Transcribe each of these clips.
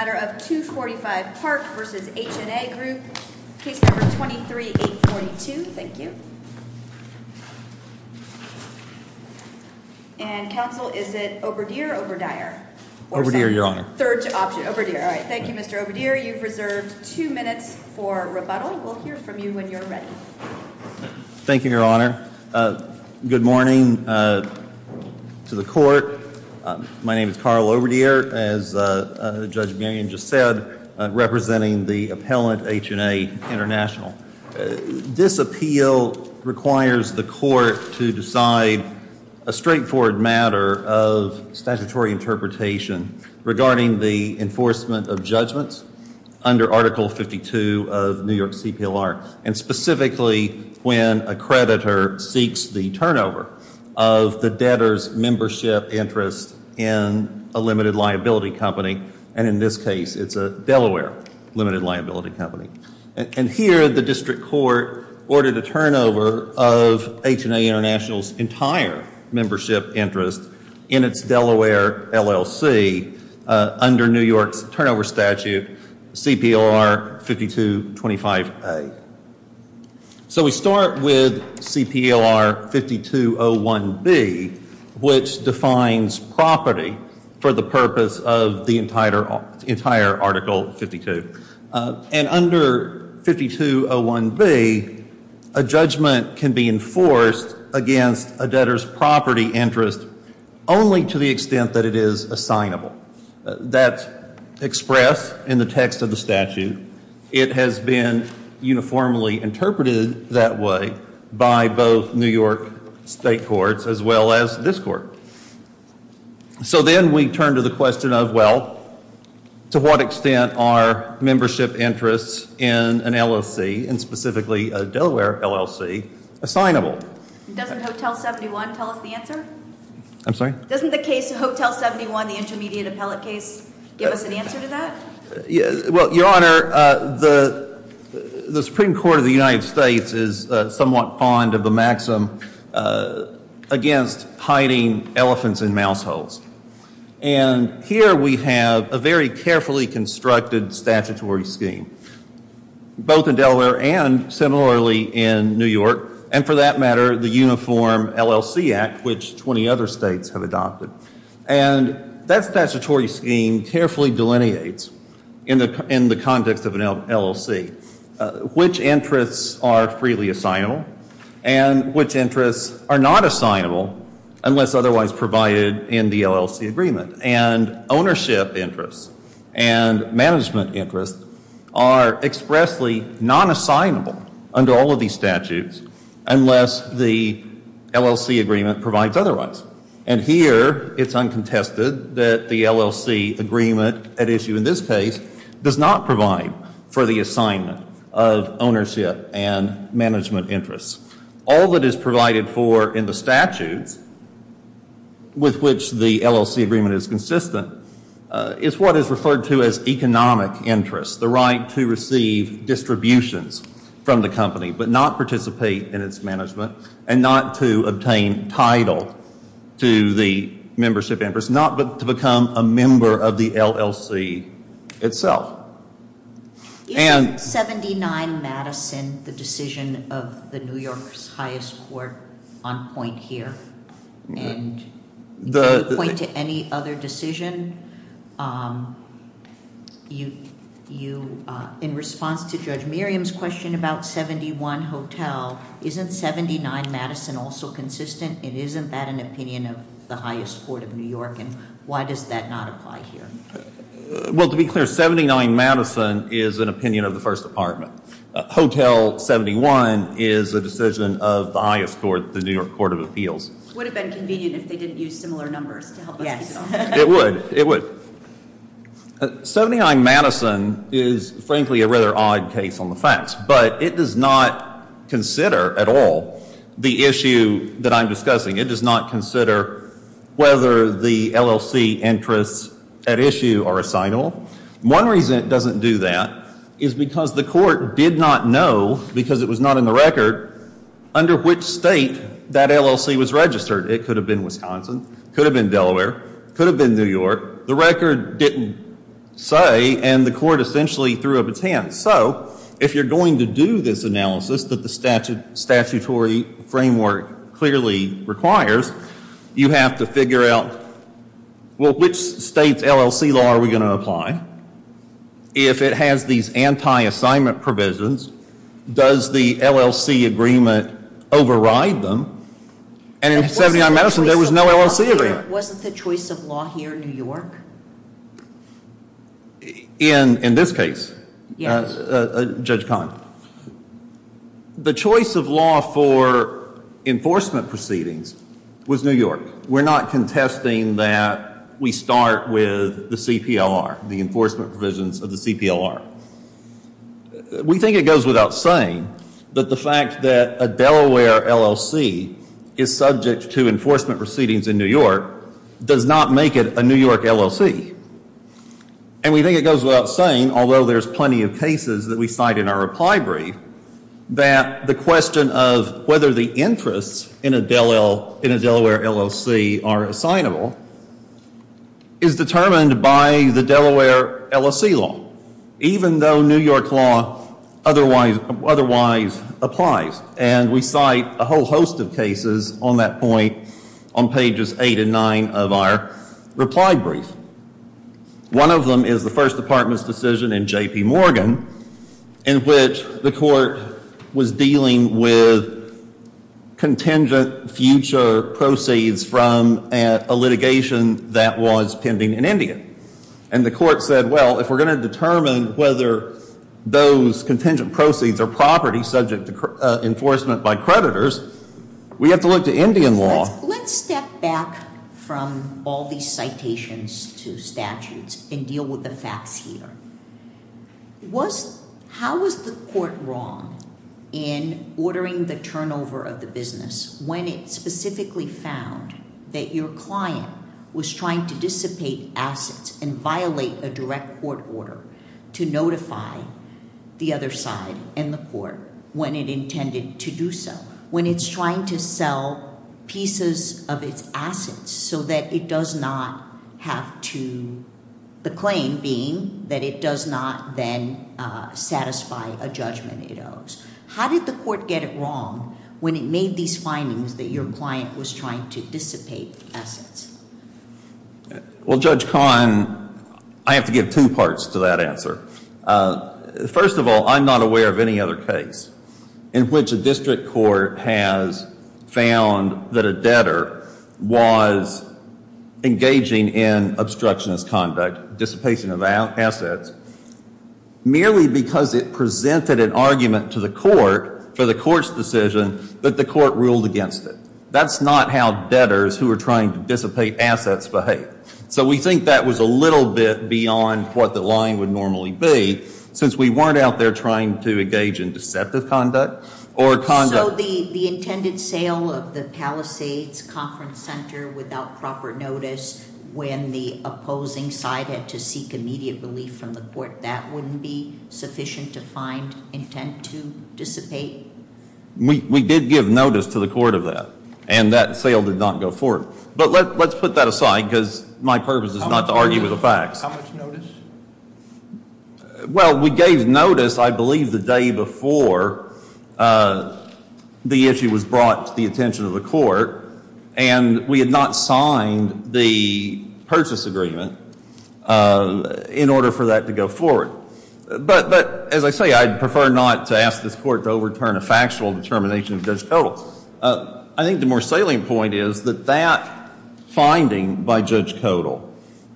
245 Park vs. HNA Group Case Number 23-842 Council, is it Oberdier or Oberdier? Oberdier, Your Honor. Third option, Oberdier. Thank you, Mr. Oberdier. You've reserved two minutes for rebuttal. We'll hear from you when you're ready. Thank you, Your Honor. Good morning to the court. My name is Carl Oberdier, as Judge McGinn just said, representing the appellant HNA International. This appeal requires the court to decide a straightforward matter of statutory interpretation regarding the enforcement of judgments under Article 52 of New York CPLR, and specifically when a creditor seeks the turnover of the debtor's membership interest in a limited liability company. And in this case, it's a Delaware limited liability company. And here, the district court ordered a turnover of HNA International's entire membership interest in its Delaware LLC under New York's turnover statute, CPLR 5225A. So we start with CPLR 5201B, which defines property for the purpose of the entire Article 52. And under 5201B, a judgment can be enforced against a debtor's property interest only to the extent that it is assignable. That's expressed in the text of the statute. It has been uniformly interpreted that way by both New York state courts as well as this court. So then we turn to the question of, well, to what extent are membership interests in an LLC, and specifically a Delaware LLC, assignable? Doesn't Hotel 71 tell us the answer? I'm sorry? Doesn't the case of Hotel 71, the intermediate appellate case, give us an answer to that? Well, Your Honor, the Supreme Court of the United States is somewhat fond of the maxim against hiding elephants in mouse holes. And here we have a very carefully constructed statutory scheme, both in Delaware and similarly in New York, and for that matter, the Uniform LLC Act, which 20 other states have adopted. And that statutory scheme carefully delineates in the context of an LLC which interests are freely assignable and which interests are not assignable unless otherwise provided in the LLC agreement. And ownership interests and management interests are expressly non-assignable under all of these statutes unless the LLC agreement provides otherwise. And here it's uncontested that the LLC agreement at issue in this case does not provide for the assignment of ownership and management interests. All that is provided for in the statutes with which the LLC agreement is consistent is what is referred to as economic interest, the right to receive distributions from the company but not participate in its management and not to obtain title to the membership interest, not but to become a member of the LLC itself. Isn't 79 Madison the decision of the New York's highest court on point here? And can you point to any other decision? In response to Judge Miriam's question about 71 Hotel, isn't 79 Madison also consistent? And isn't that an opinion of the highest court of New York? And why does that not apply here? Well, to be clear, 79 Madison is an opinion of the First Department. Hotel 71 is a decision of the highest court, the New York Court of Appeals. It would have been convenient if they didn't use similar numbers to help us. Yes, it would. 79 Madison is frankly a rather odd case on the facts. But it does not consider at all the issue that I'm discussing. It does not consider whether the LLC interests at issue are assignable. One reason it doesn't do that is because the court did not know, because it was not in the record, under which state that LLC was registered. It could have been Wisconsin, could have been Delaware, could have been New York. The record didn't say and the court essentially threw up its hands. So if you're going to do this analysis that the statutory framework clearly requires, you have to figure out, well, which state's LLC law are we going to apply? If it has these anti-assignment provisions, does the LLC agreement override them? And in 79 Madison there was no LLC agreement. Wasn't the choice of law here in New York? In this case? Yes. Judge Kahn. The choice of law for enforcement proceedings was New York. We're not contesting that we start with the CPLR, the enforcement provisions of the CPLR. We think it goes without saying that the fact that a Delaware LLC is subject to enforcement proceedings in New York does not make it a New York LLC. And we think it goes without saying, although there's plenty of cases that we cite in our reply brief, that the question of whether the interests in a Delaware LLC are assignable is determined by the Delaware LLC law, even though New York law otherwise applies. And we cite a whole host of cases on that point on pages 8 and 9 of our reply brief. One of them is the First Department's decision in J.P. Morgan in which the court was dealing with contingent future proceeds from a litigation that was pending in India. And the court said, well, if we're going to determine whether those contingent proceeds are property subject to enforcement by creditors, we have to look to Indian law. Let's step back from all these citations to statutes and deal with the facts here. How was the court wrong in ordering the turnover of the business when it specifically found that your client was trying to dissipate assets and violate a direct court order to notify the other side and the court when it intended to do so? When it's trying to sell pieces of its assets so that it does not have to, the claim being that it does not then satisfy a judgment it owes. How did the court get it wrong when it made these findings that your client was trying to dissipate assets? Well, Judge Kahn, I have to give two parts to that answer. First of all, I'm not aware of any other case in which a district court has found that a debtor was engaging in obstructionist conduct, dissipation of assets, merely because it presented an argument to the court for the court's decision that the court ruled against it. That's not how debtors who are trying to dissipate assets behave. So we think that was a little bit beyond what the line would normally be since we weren't out there trying to engage in deceptive conduct or conduct. So the intended sale of the Palisades Conference Center without proper notice when the opposing side had to seek immediate relief from the court, that wouldn't be sufficient to find intent to dissipate? We did give notice to the court of that, and that sale did not go forward. But let's put that aside because my purpose is not to argue with the facts. How much notice? Well, we gave notice, I believe, the day before the issue was brought to the attention of the court, and we had not signed the purchase agreement in order for that to go forward. But as I say, I'd prefer not to ask this court to overturn a factual determination of Judge Kodal. I think the more salient point is that that finding by Judge Kodal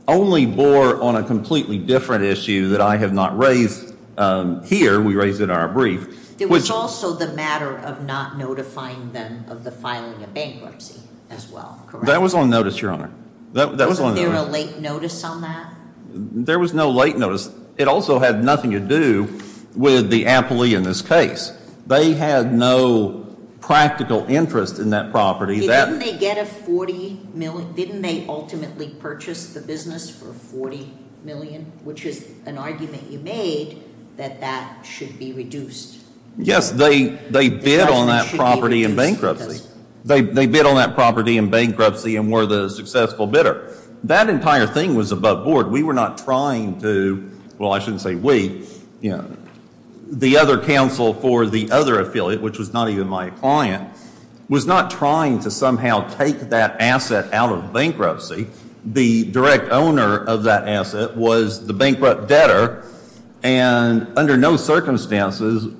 only bore on a completely different issue that I have not raised here. We raised it in our brief. It was also the matter of not notifying them of the filing of bankruptcy as well, correct? That was on notice, Your Honor. Was there a late notice on that? There was no late notice. It also had nothing to do with the appellee in this case. They had no practical interest in that property. Didn't they ultimately purchase the business for $40 million, which is an argument you made that that should be reduced? Yes, they bid on that property in bankruptcy. They bid on that property in bankruptcy and were the successful bidder. That entire thing was above board. We were not trying to, well, I shouldn't say we, you know, the other counsel for the other affiliate, which was not even my client, was not trying to somehow take that asset out of bankruptcy. The direct owner of that asset was the bankrupt debtor, and under no circumstances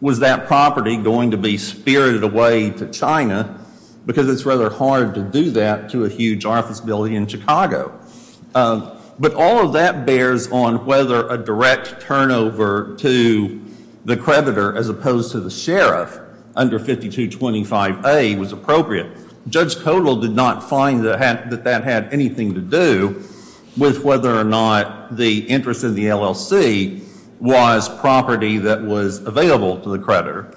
was that property going to be spirited away to China because it's rather hard to do that to a huge office building in Chicago. But all of that bears on whether a direct turnover to the creditor as opposed to the sheriff under 5225A was appropriate. Judge Kotal did not find that that had anything to do with whether or not the interest in the LLC was property that was available to the creditor.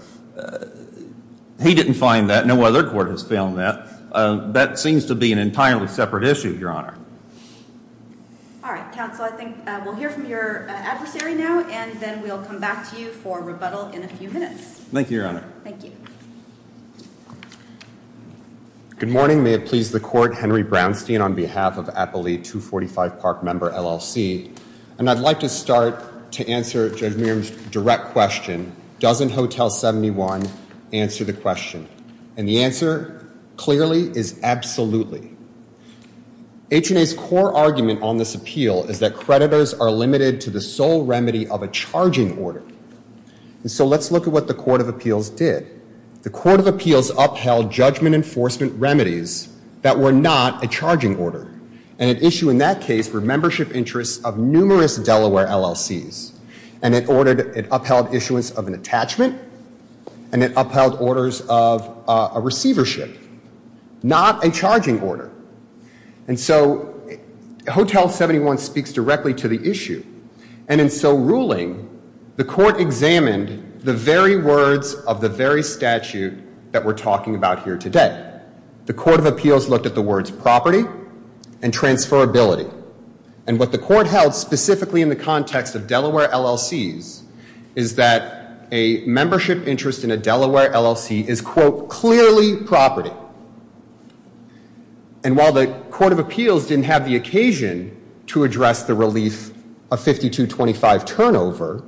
He didn't find that. No other court has found that. That seems to be an entirely separate issue, Your Honor. All right, counsel. I think we'll hear from your adversary now, and then we'll come back to you for rebuttal in a few minutes. Thank you, Your Honor. Thank you. Good morning. May it please the Court. Henry Brownstein on behalf of Appellee 245 Park Member, LLC. And I'd like to start to answer Judge Meehan's direct question, doesn't Hotel 71 answer the question? And the answer clearly is absolutely. H&A's core argument on this appeal is that creditors are limited to the sole remedy of a charging order. And so let's look at what the Court of Appeals did. The Court of Appeals upheld judgment enforcement remedies that were not a charging order. And at issue in that case were membership interests of numerous Delaware LLCs. And it upheld issuance of an attachment, and it upheld orders of a receivership. Not a charging order. And so Hotel 71 speaks directly to the issue. And in so ruling, the Court examined the very words of the very statute that we're talking about here today. The Court of Appeals looked at the words property and transferability. And what the Court held, specifically in the context of Delaware LLCs, is that a membership interest in a Delaware LLC is, quote, clearly property. And while the Court of Appeals didn't have the occasion to address the relief of 5225 turnover,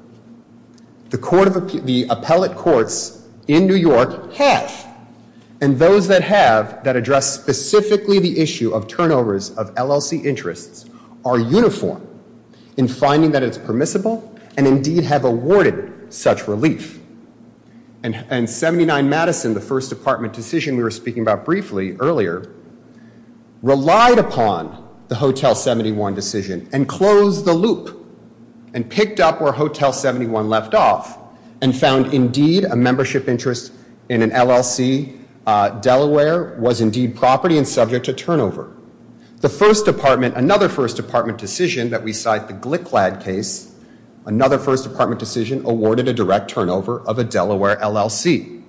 the appellate courts in New York have. And those that have, that address specifically the issue of turnovers of LLC interests, are uniform in finding that it's permissible and indeed have awarded such relief. And 79 Madison, the first department decision we were speaking about briefly earlier, relied upon the Hotel 71 decision and closed the loop and picked up where Hotel 71 left off and found indeed a membership interest in an LLC, Delaware, was indeed property and subject to turnover. The first department, another first department decision that we cite, the Glick Lad case, another first department decision awarded a direct turnover of a Delaware LLC.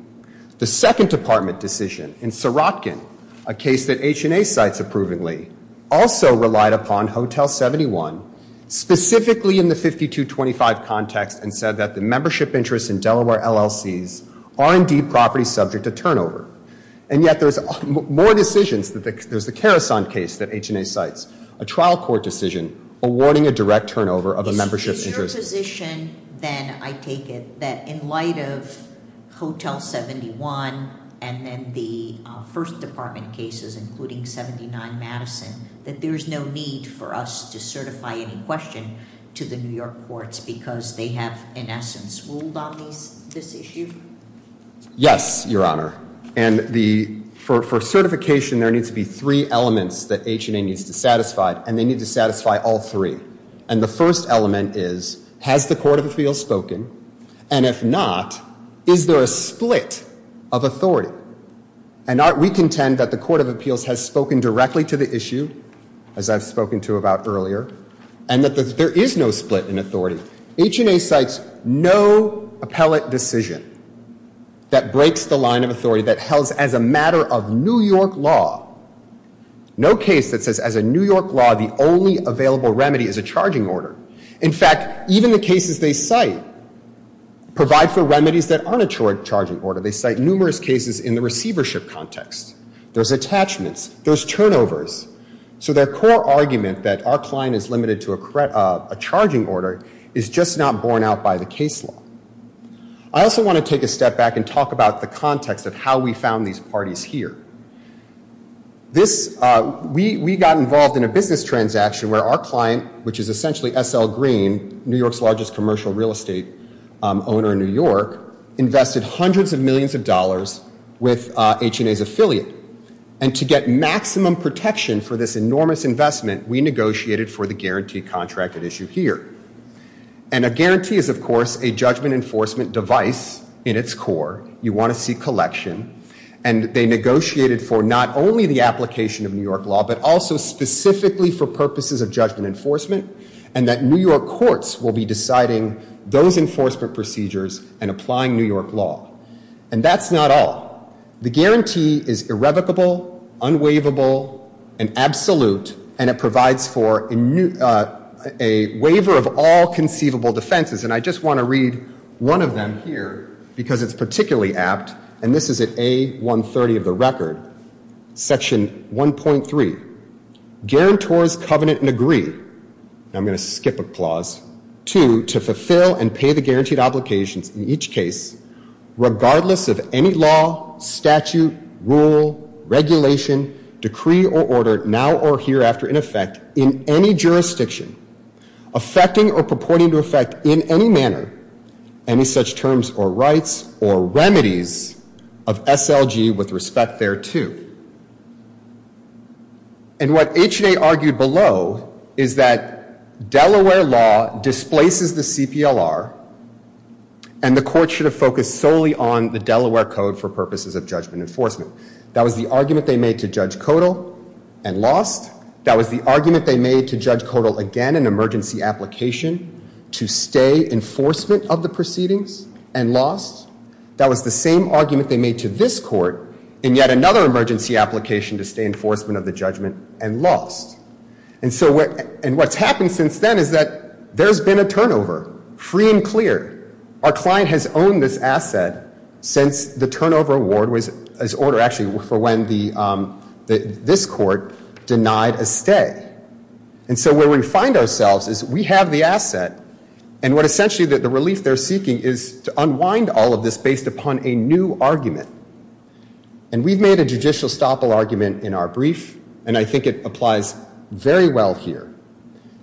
The second department decision, in Serotkin, a case that H&A cites approvingly, also relied upon Hotel 71, specifically in the 5225 context, and said that the membership interests in Delaware LLCs are indeed property subject to turnover. And yet there's more decisions, there's the Karasan case that H&A cites, a trial court decision awarding a direct turnover of a membership interest. Is your position then, I take it, that in light of Hotel 71 and then the first department cases, including 79 Madison, that there's no need for us to certify any question to the New York courts because they have, in essence, ruled on this issue? Yes, Your Honor. And for certification, there needs to be three elements that H&A needs to satisfy, and they need to satisfy all three. And the first element is, has the Court of Appeals spoken? And if not, is there a split of authority? And we contend that the Court of Appeals has spoken directly to the issue, as I've spoken to about earlier, and that there is no split in authority. H&A cites no appellate decision that breaks the line of authority that helds as a matter of New York law, no case that says as a New York law the only available remedy is a charging order. In fact, even the cases they cite provide for remedies that aren't a charging order. They cite numerous cases in the receivership context. There's attachments, there's turnovers. So their core argument that our client is limited to a charging order is just not borne out by the case law. I also want to take a step back and talk about the context of how we found these parties here. We got involved in a business transaction where our client, which is essentially S.L. Green, New York's largest commercial real estate owner in New York, invested hundreds of millions of dollars with H&A's affiliate. And to get maximum protection for this enormous investment, we negotiated for the guarantee contract at issue here. And a guarantee is, of course, a judgment enforcement device in its core. You want to see collection. And they negotiated for not only the application of New York law, but also specifically for purposes of judgment enforcement, and that New York courts will be deciding those enforcement procedures and applying New York law. And that's not all. The guarantee is irrevocable, unwaivable, and absolute, and it provides for a waiver of all conceivable defenses. And I just want to read one of them here because it's particularly apt. And this is at A130 of the record. Section 1.3, guarantors covenant and agree. I'm going to skip a clause. Two, to fulfill and pay the guaranteed obligations in each case, regardless of any law, statute, rule, regulation, decree or order now or hereafter in effect in any jurisdiction, affecting or purporting to affect in any manner any such terms or rights or remedies of S.L.G. with respect thereto. And what H&A argued below is that Delaware law displaces the CPLR, and the court should have focused solely on the Delaware code for purposes of judgment enforcement. That was the argument they made to Judge Codal and lost. That was the argument they made to Judge Codal again in emergency application to stay enforcement of the proceedings and lost. That was the same argument they made to this court in yet another emergency application to stay enforcement of the judgment and lost. And what's happened since then is that there's been a turnover, free and clear. Our client has owned this asset since the turnover award was, actually for when this court denied a stay. And so where we find ourselves is we have the asset, and what essentially the relief they're seeking is to unwind all of this based upon a new argument. And we've made a judicial stoppable argument in our brief, and I think it applies very well here.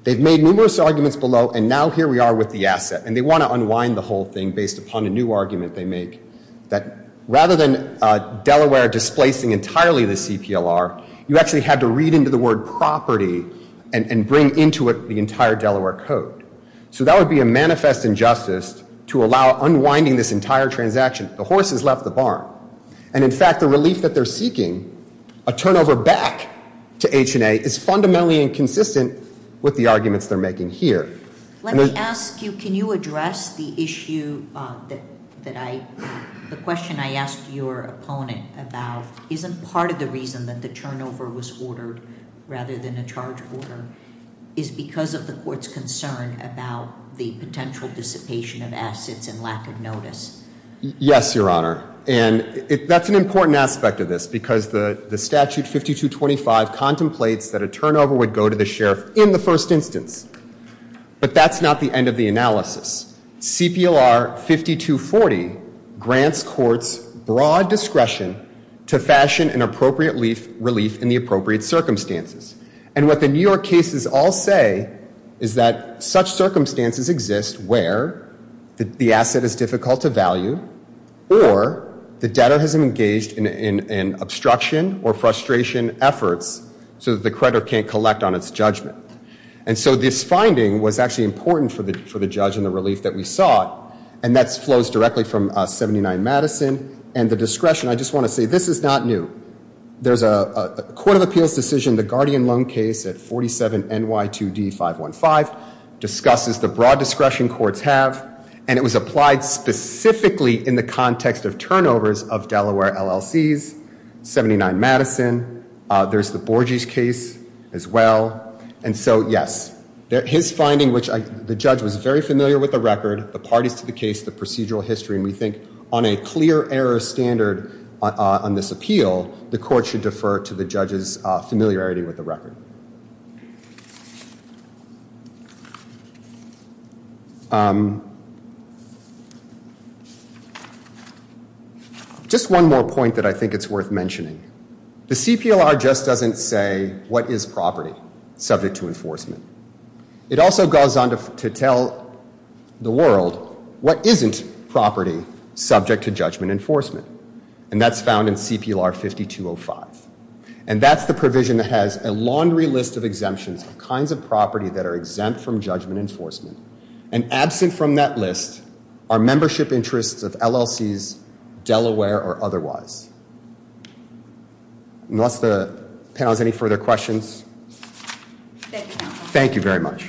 They've made numerous arguments below, and now here we are with the asset. And they want to unwind the whole thing based upon a new argument they make, that rather than Delaware displacing entirely the CPLR, you actually had to read into the word property and bring into it the entire Delaware Code. So that would be a manifest injustice to allow unwinding this entire transaction. The horse has left the barn. And in fact, the relief that they're seeking, a turnover back to H&A, is fundamentally inconsistent with the arguments they're making here. Let me ask you, can you address the issue that I, the question I asked your opponent about, isn't part of the reason that the turnover was ordered rather than a charge order, is because of the court's concern about the potential dissipation of assets and lack of notice? Yes, Your Honor. And that's an important aspect of this, because the statute 5225 contemplates that a turnover would go to the sheriff in the first instance. But that's not the end of the analysis. CPLR 5240 grants courts broad discretion to fashion an appropriate relief in the appropriate circumstances. And what the New York cases all say is that such circumstances exist where the asset is difficult to value, or the debtor has engaged in obstruction or frustration efforts so that the creditor can't collect on its judgment. And so this finding was actually important for the judge and the relief that we sought, and that flows directly from 79 Madison. And the discretion, I just want to say, this is not new. There's a Court of Appeals decision, the Guardian Loan case at 47 NY2D 515, discusses the broad discretion courts have, and it was applied specifically in the context of turnovers of Delaware LLC's 79 Madison. There's the Borges case as well. And so, yes, his finding, which the judge was very familiar with the record, the parties to the case, the procedural history, and we think on a clear error standard on this appeal, the court should defer to the judge's familiarity with the record. Just one more point that I think it's worth mentioning. The CPLR just doesn't say what is property subject to enforcement. It also goes on to tell the world what isn't property subject to judgment enforcement, and that's found in CPLR 5205. And that's the provision that has a laundry list of exemptions of kinds of property that are exempt from judgment enforcement, and absent from that list are membership interests of LLC's, Delaware or otherwise. Unless the panel has any further questions, thank you very much.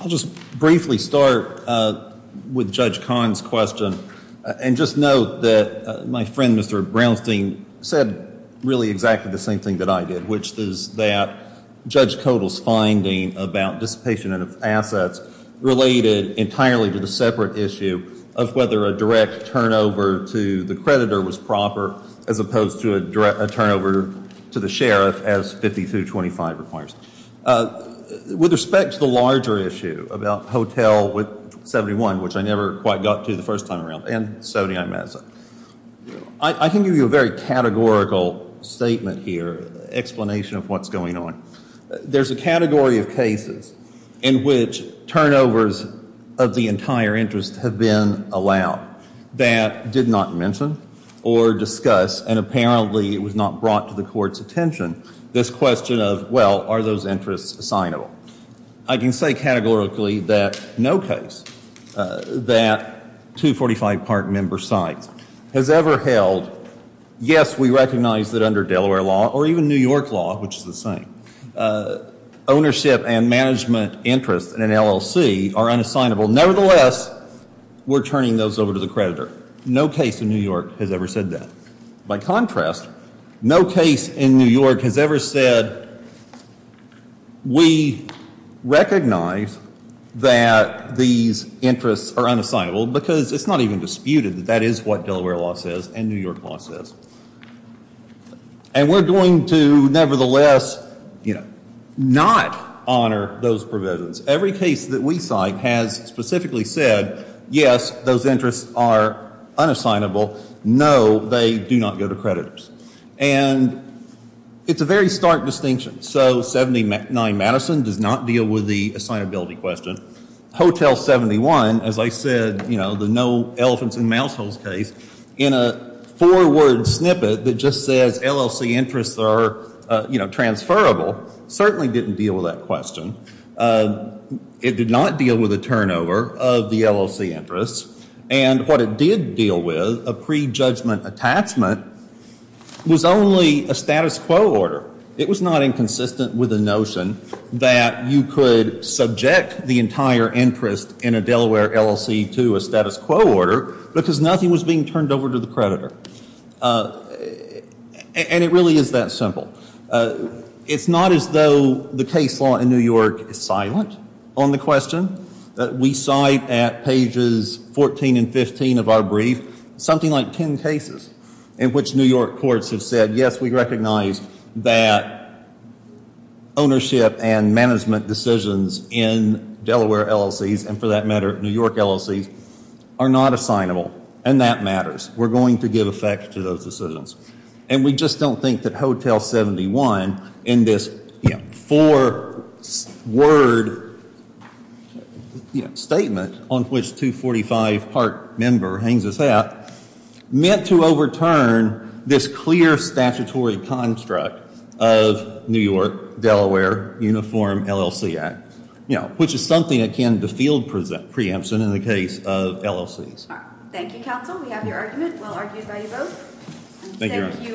I'll just briefly start with Judge Kahn's question and just note that my friend Mr. Brownstein said really exactly the same thing that I did, which is that Judge Kodal's finding about dissipation of assets related entirely to the separate issue of whether a direct turnover to the creditor was proper as opposed to a turnover to the sheriff as 5225 requires. With respect to the larger issue about Hotel 71, which I never quite got to the first time around, and 79 Madison, I can give you a very categorical statement here, explanation of what's going on. There's a category of cases in which turnovers of the entire interest have been allowed that did not mention or discuss, and apparently it was not brought to the court's attention, this question of, well, are those interests assignable? I can say categorically that no case that 245 part member sites has ever held, yes, we recognize that under Delaware law or even New York law, which is the same, ownership and management interests in an LLC are unassignable. Nevertheless, we're turning those over to the creditor. No case in New York has ever said that. By contrast, no case in New York has ever said we recognize that these interests are unassignable because it's not even disputed that that is what Delaware law says and New York law says. And we're going to, nevertheless, not honor those provisions. Every case that we cite has specifically said, yes, those interests are unassignable. No, they do not go to creditors. And it's a very stark distinction. So 79 Madison does not deal with the assignability question. Hotel 71, as I said, you know, the no elephants and mouse holes case, in a four-word snippet that just says LLC interests are, you know, transferable, certainly didn't deal with that question. It did not deal with the turnover of the LLC interests. And what it did deal with, a prejudgment attachment, was only a status quo order. It was not inconsistent with the notion that you could subject the entire interest in a Delaware LLC to a status quo order because nothing was being turned over to the creditor. And it really is that simple. It's not as though the case law in New York is silent on the question. We cite at pages 14 and 15 of our brief something like 10 cases in which New York courts have said, yes, we recognize that ownership and management decisions in Delaware LLCs, and for that matter New York LLCs, are not assignable. And that matters. We're going to give effect to those decisions. And we just don't think that Hotel 71 in this four-word statement on which 245-part member hangs this out, meant to overturn this clear statutory construct of New York-Delaware Uniform LLC Act, which is something akin to field preemption in the case of LLCs. Thank you, counsel. We have your argument, well argued by you both. Thank you.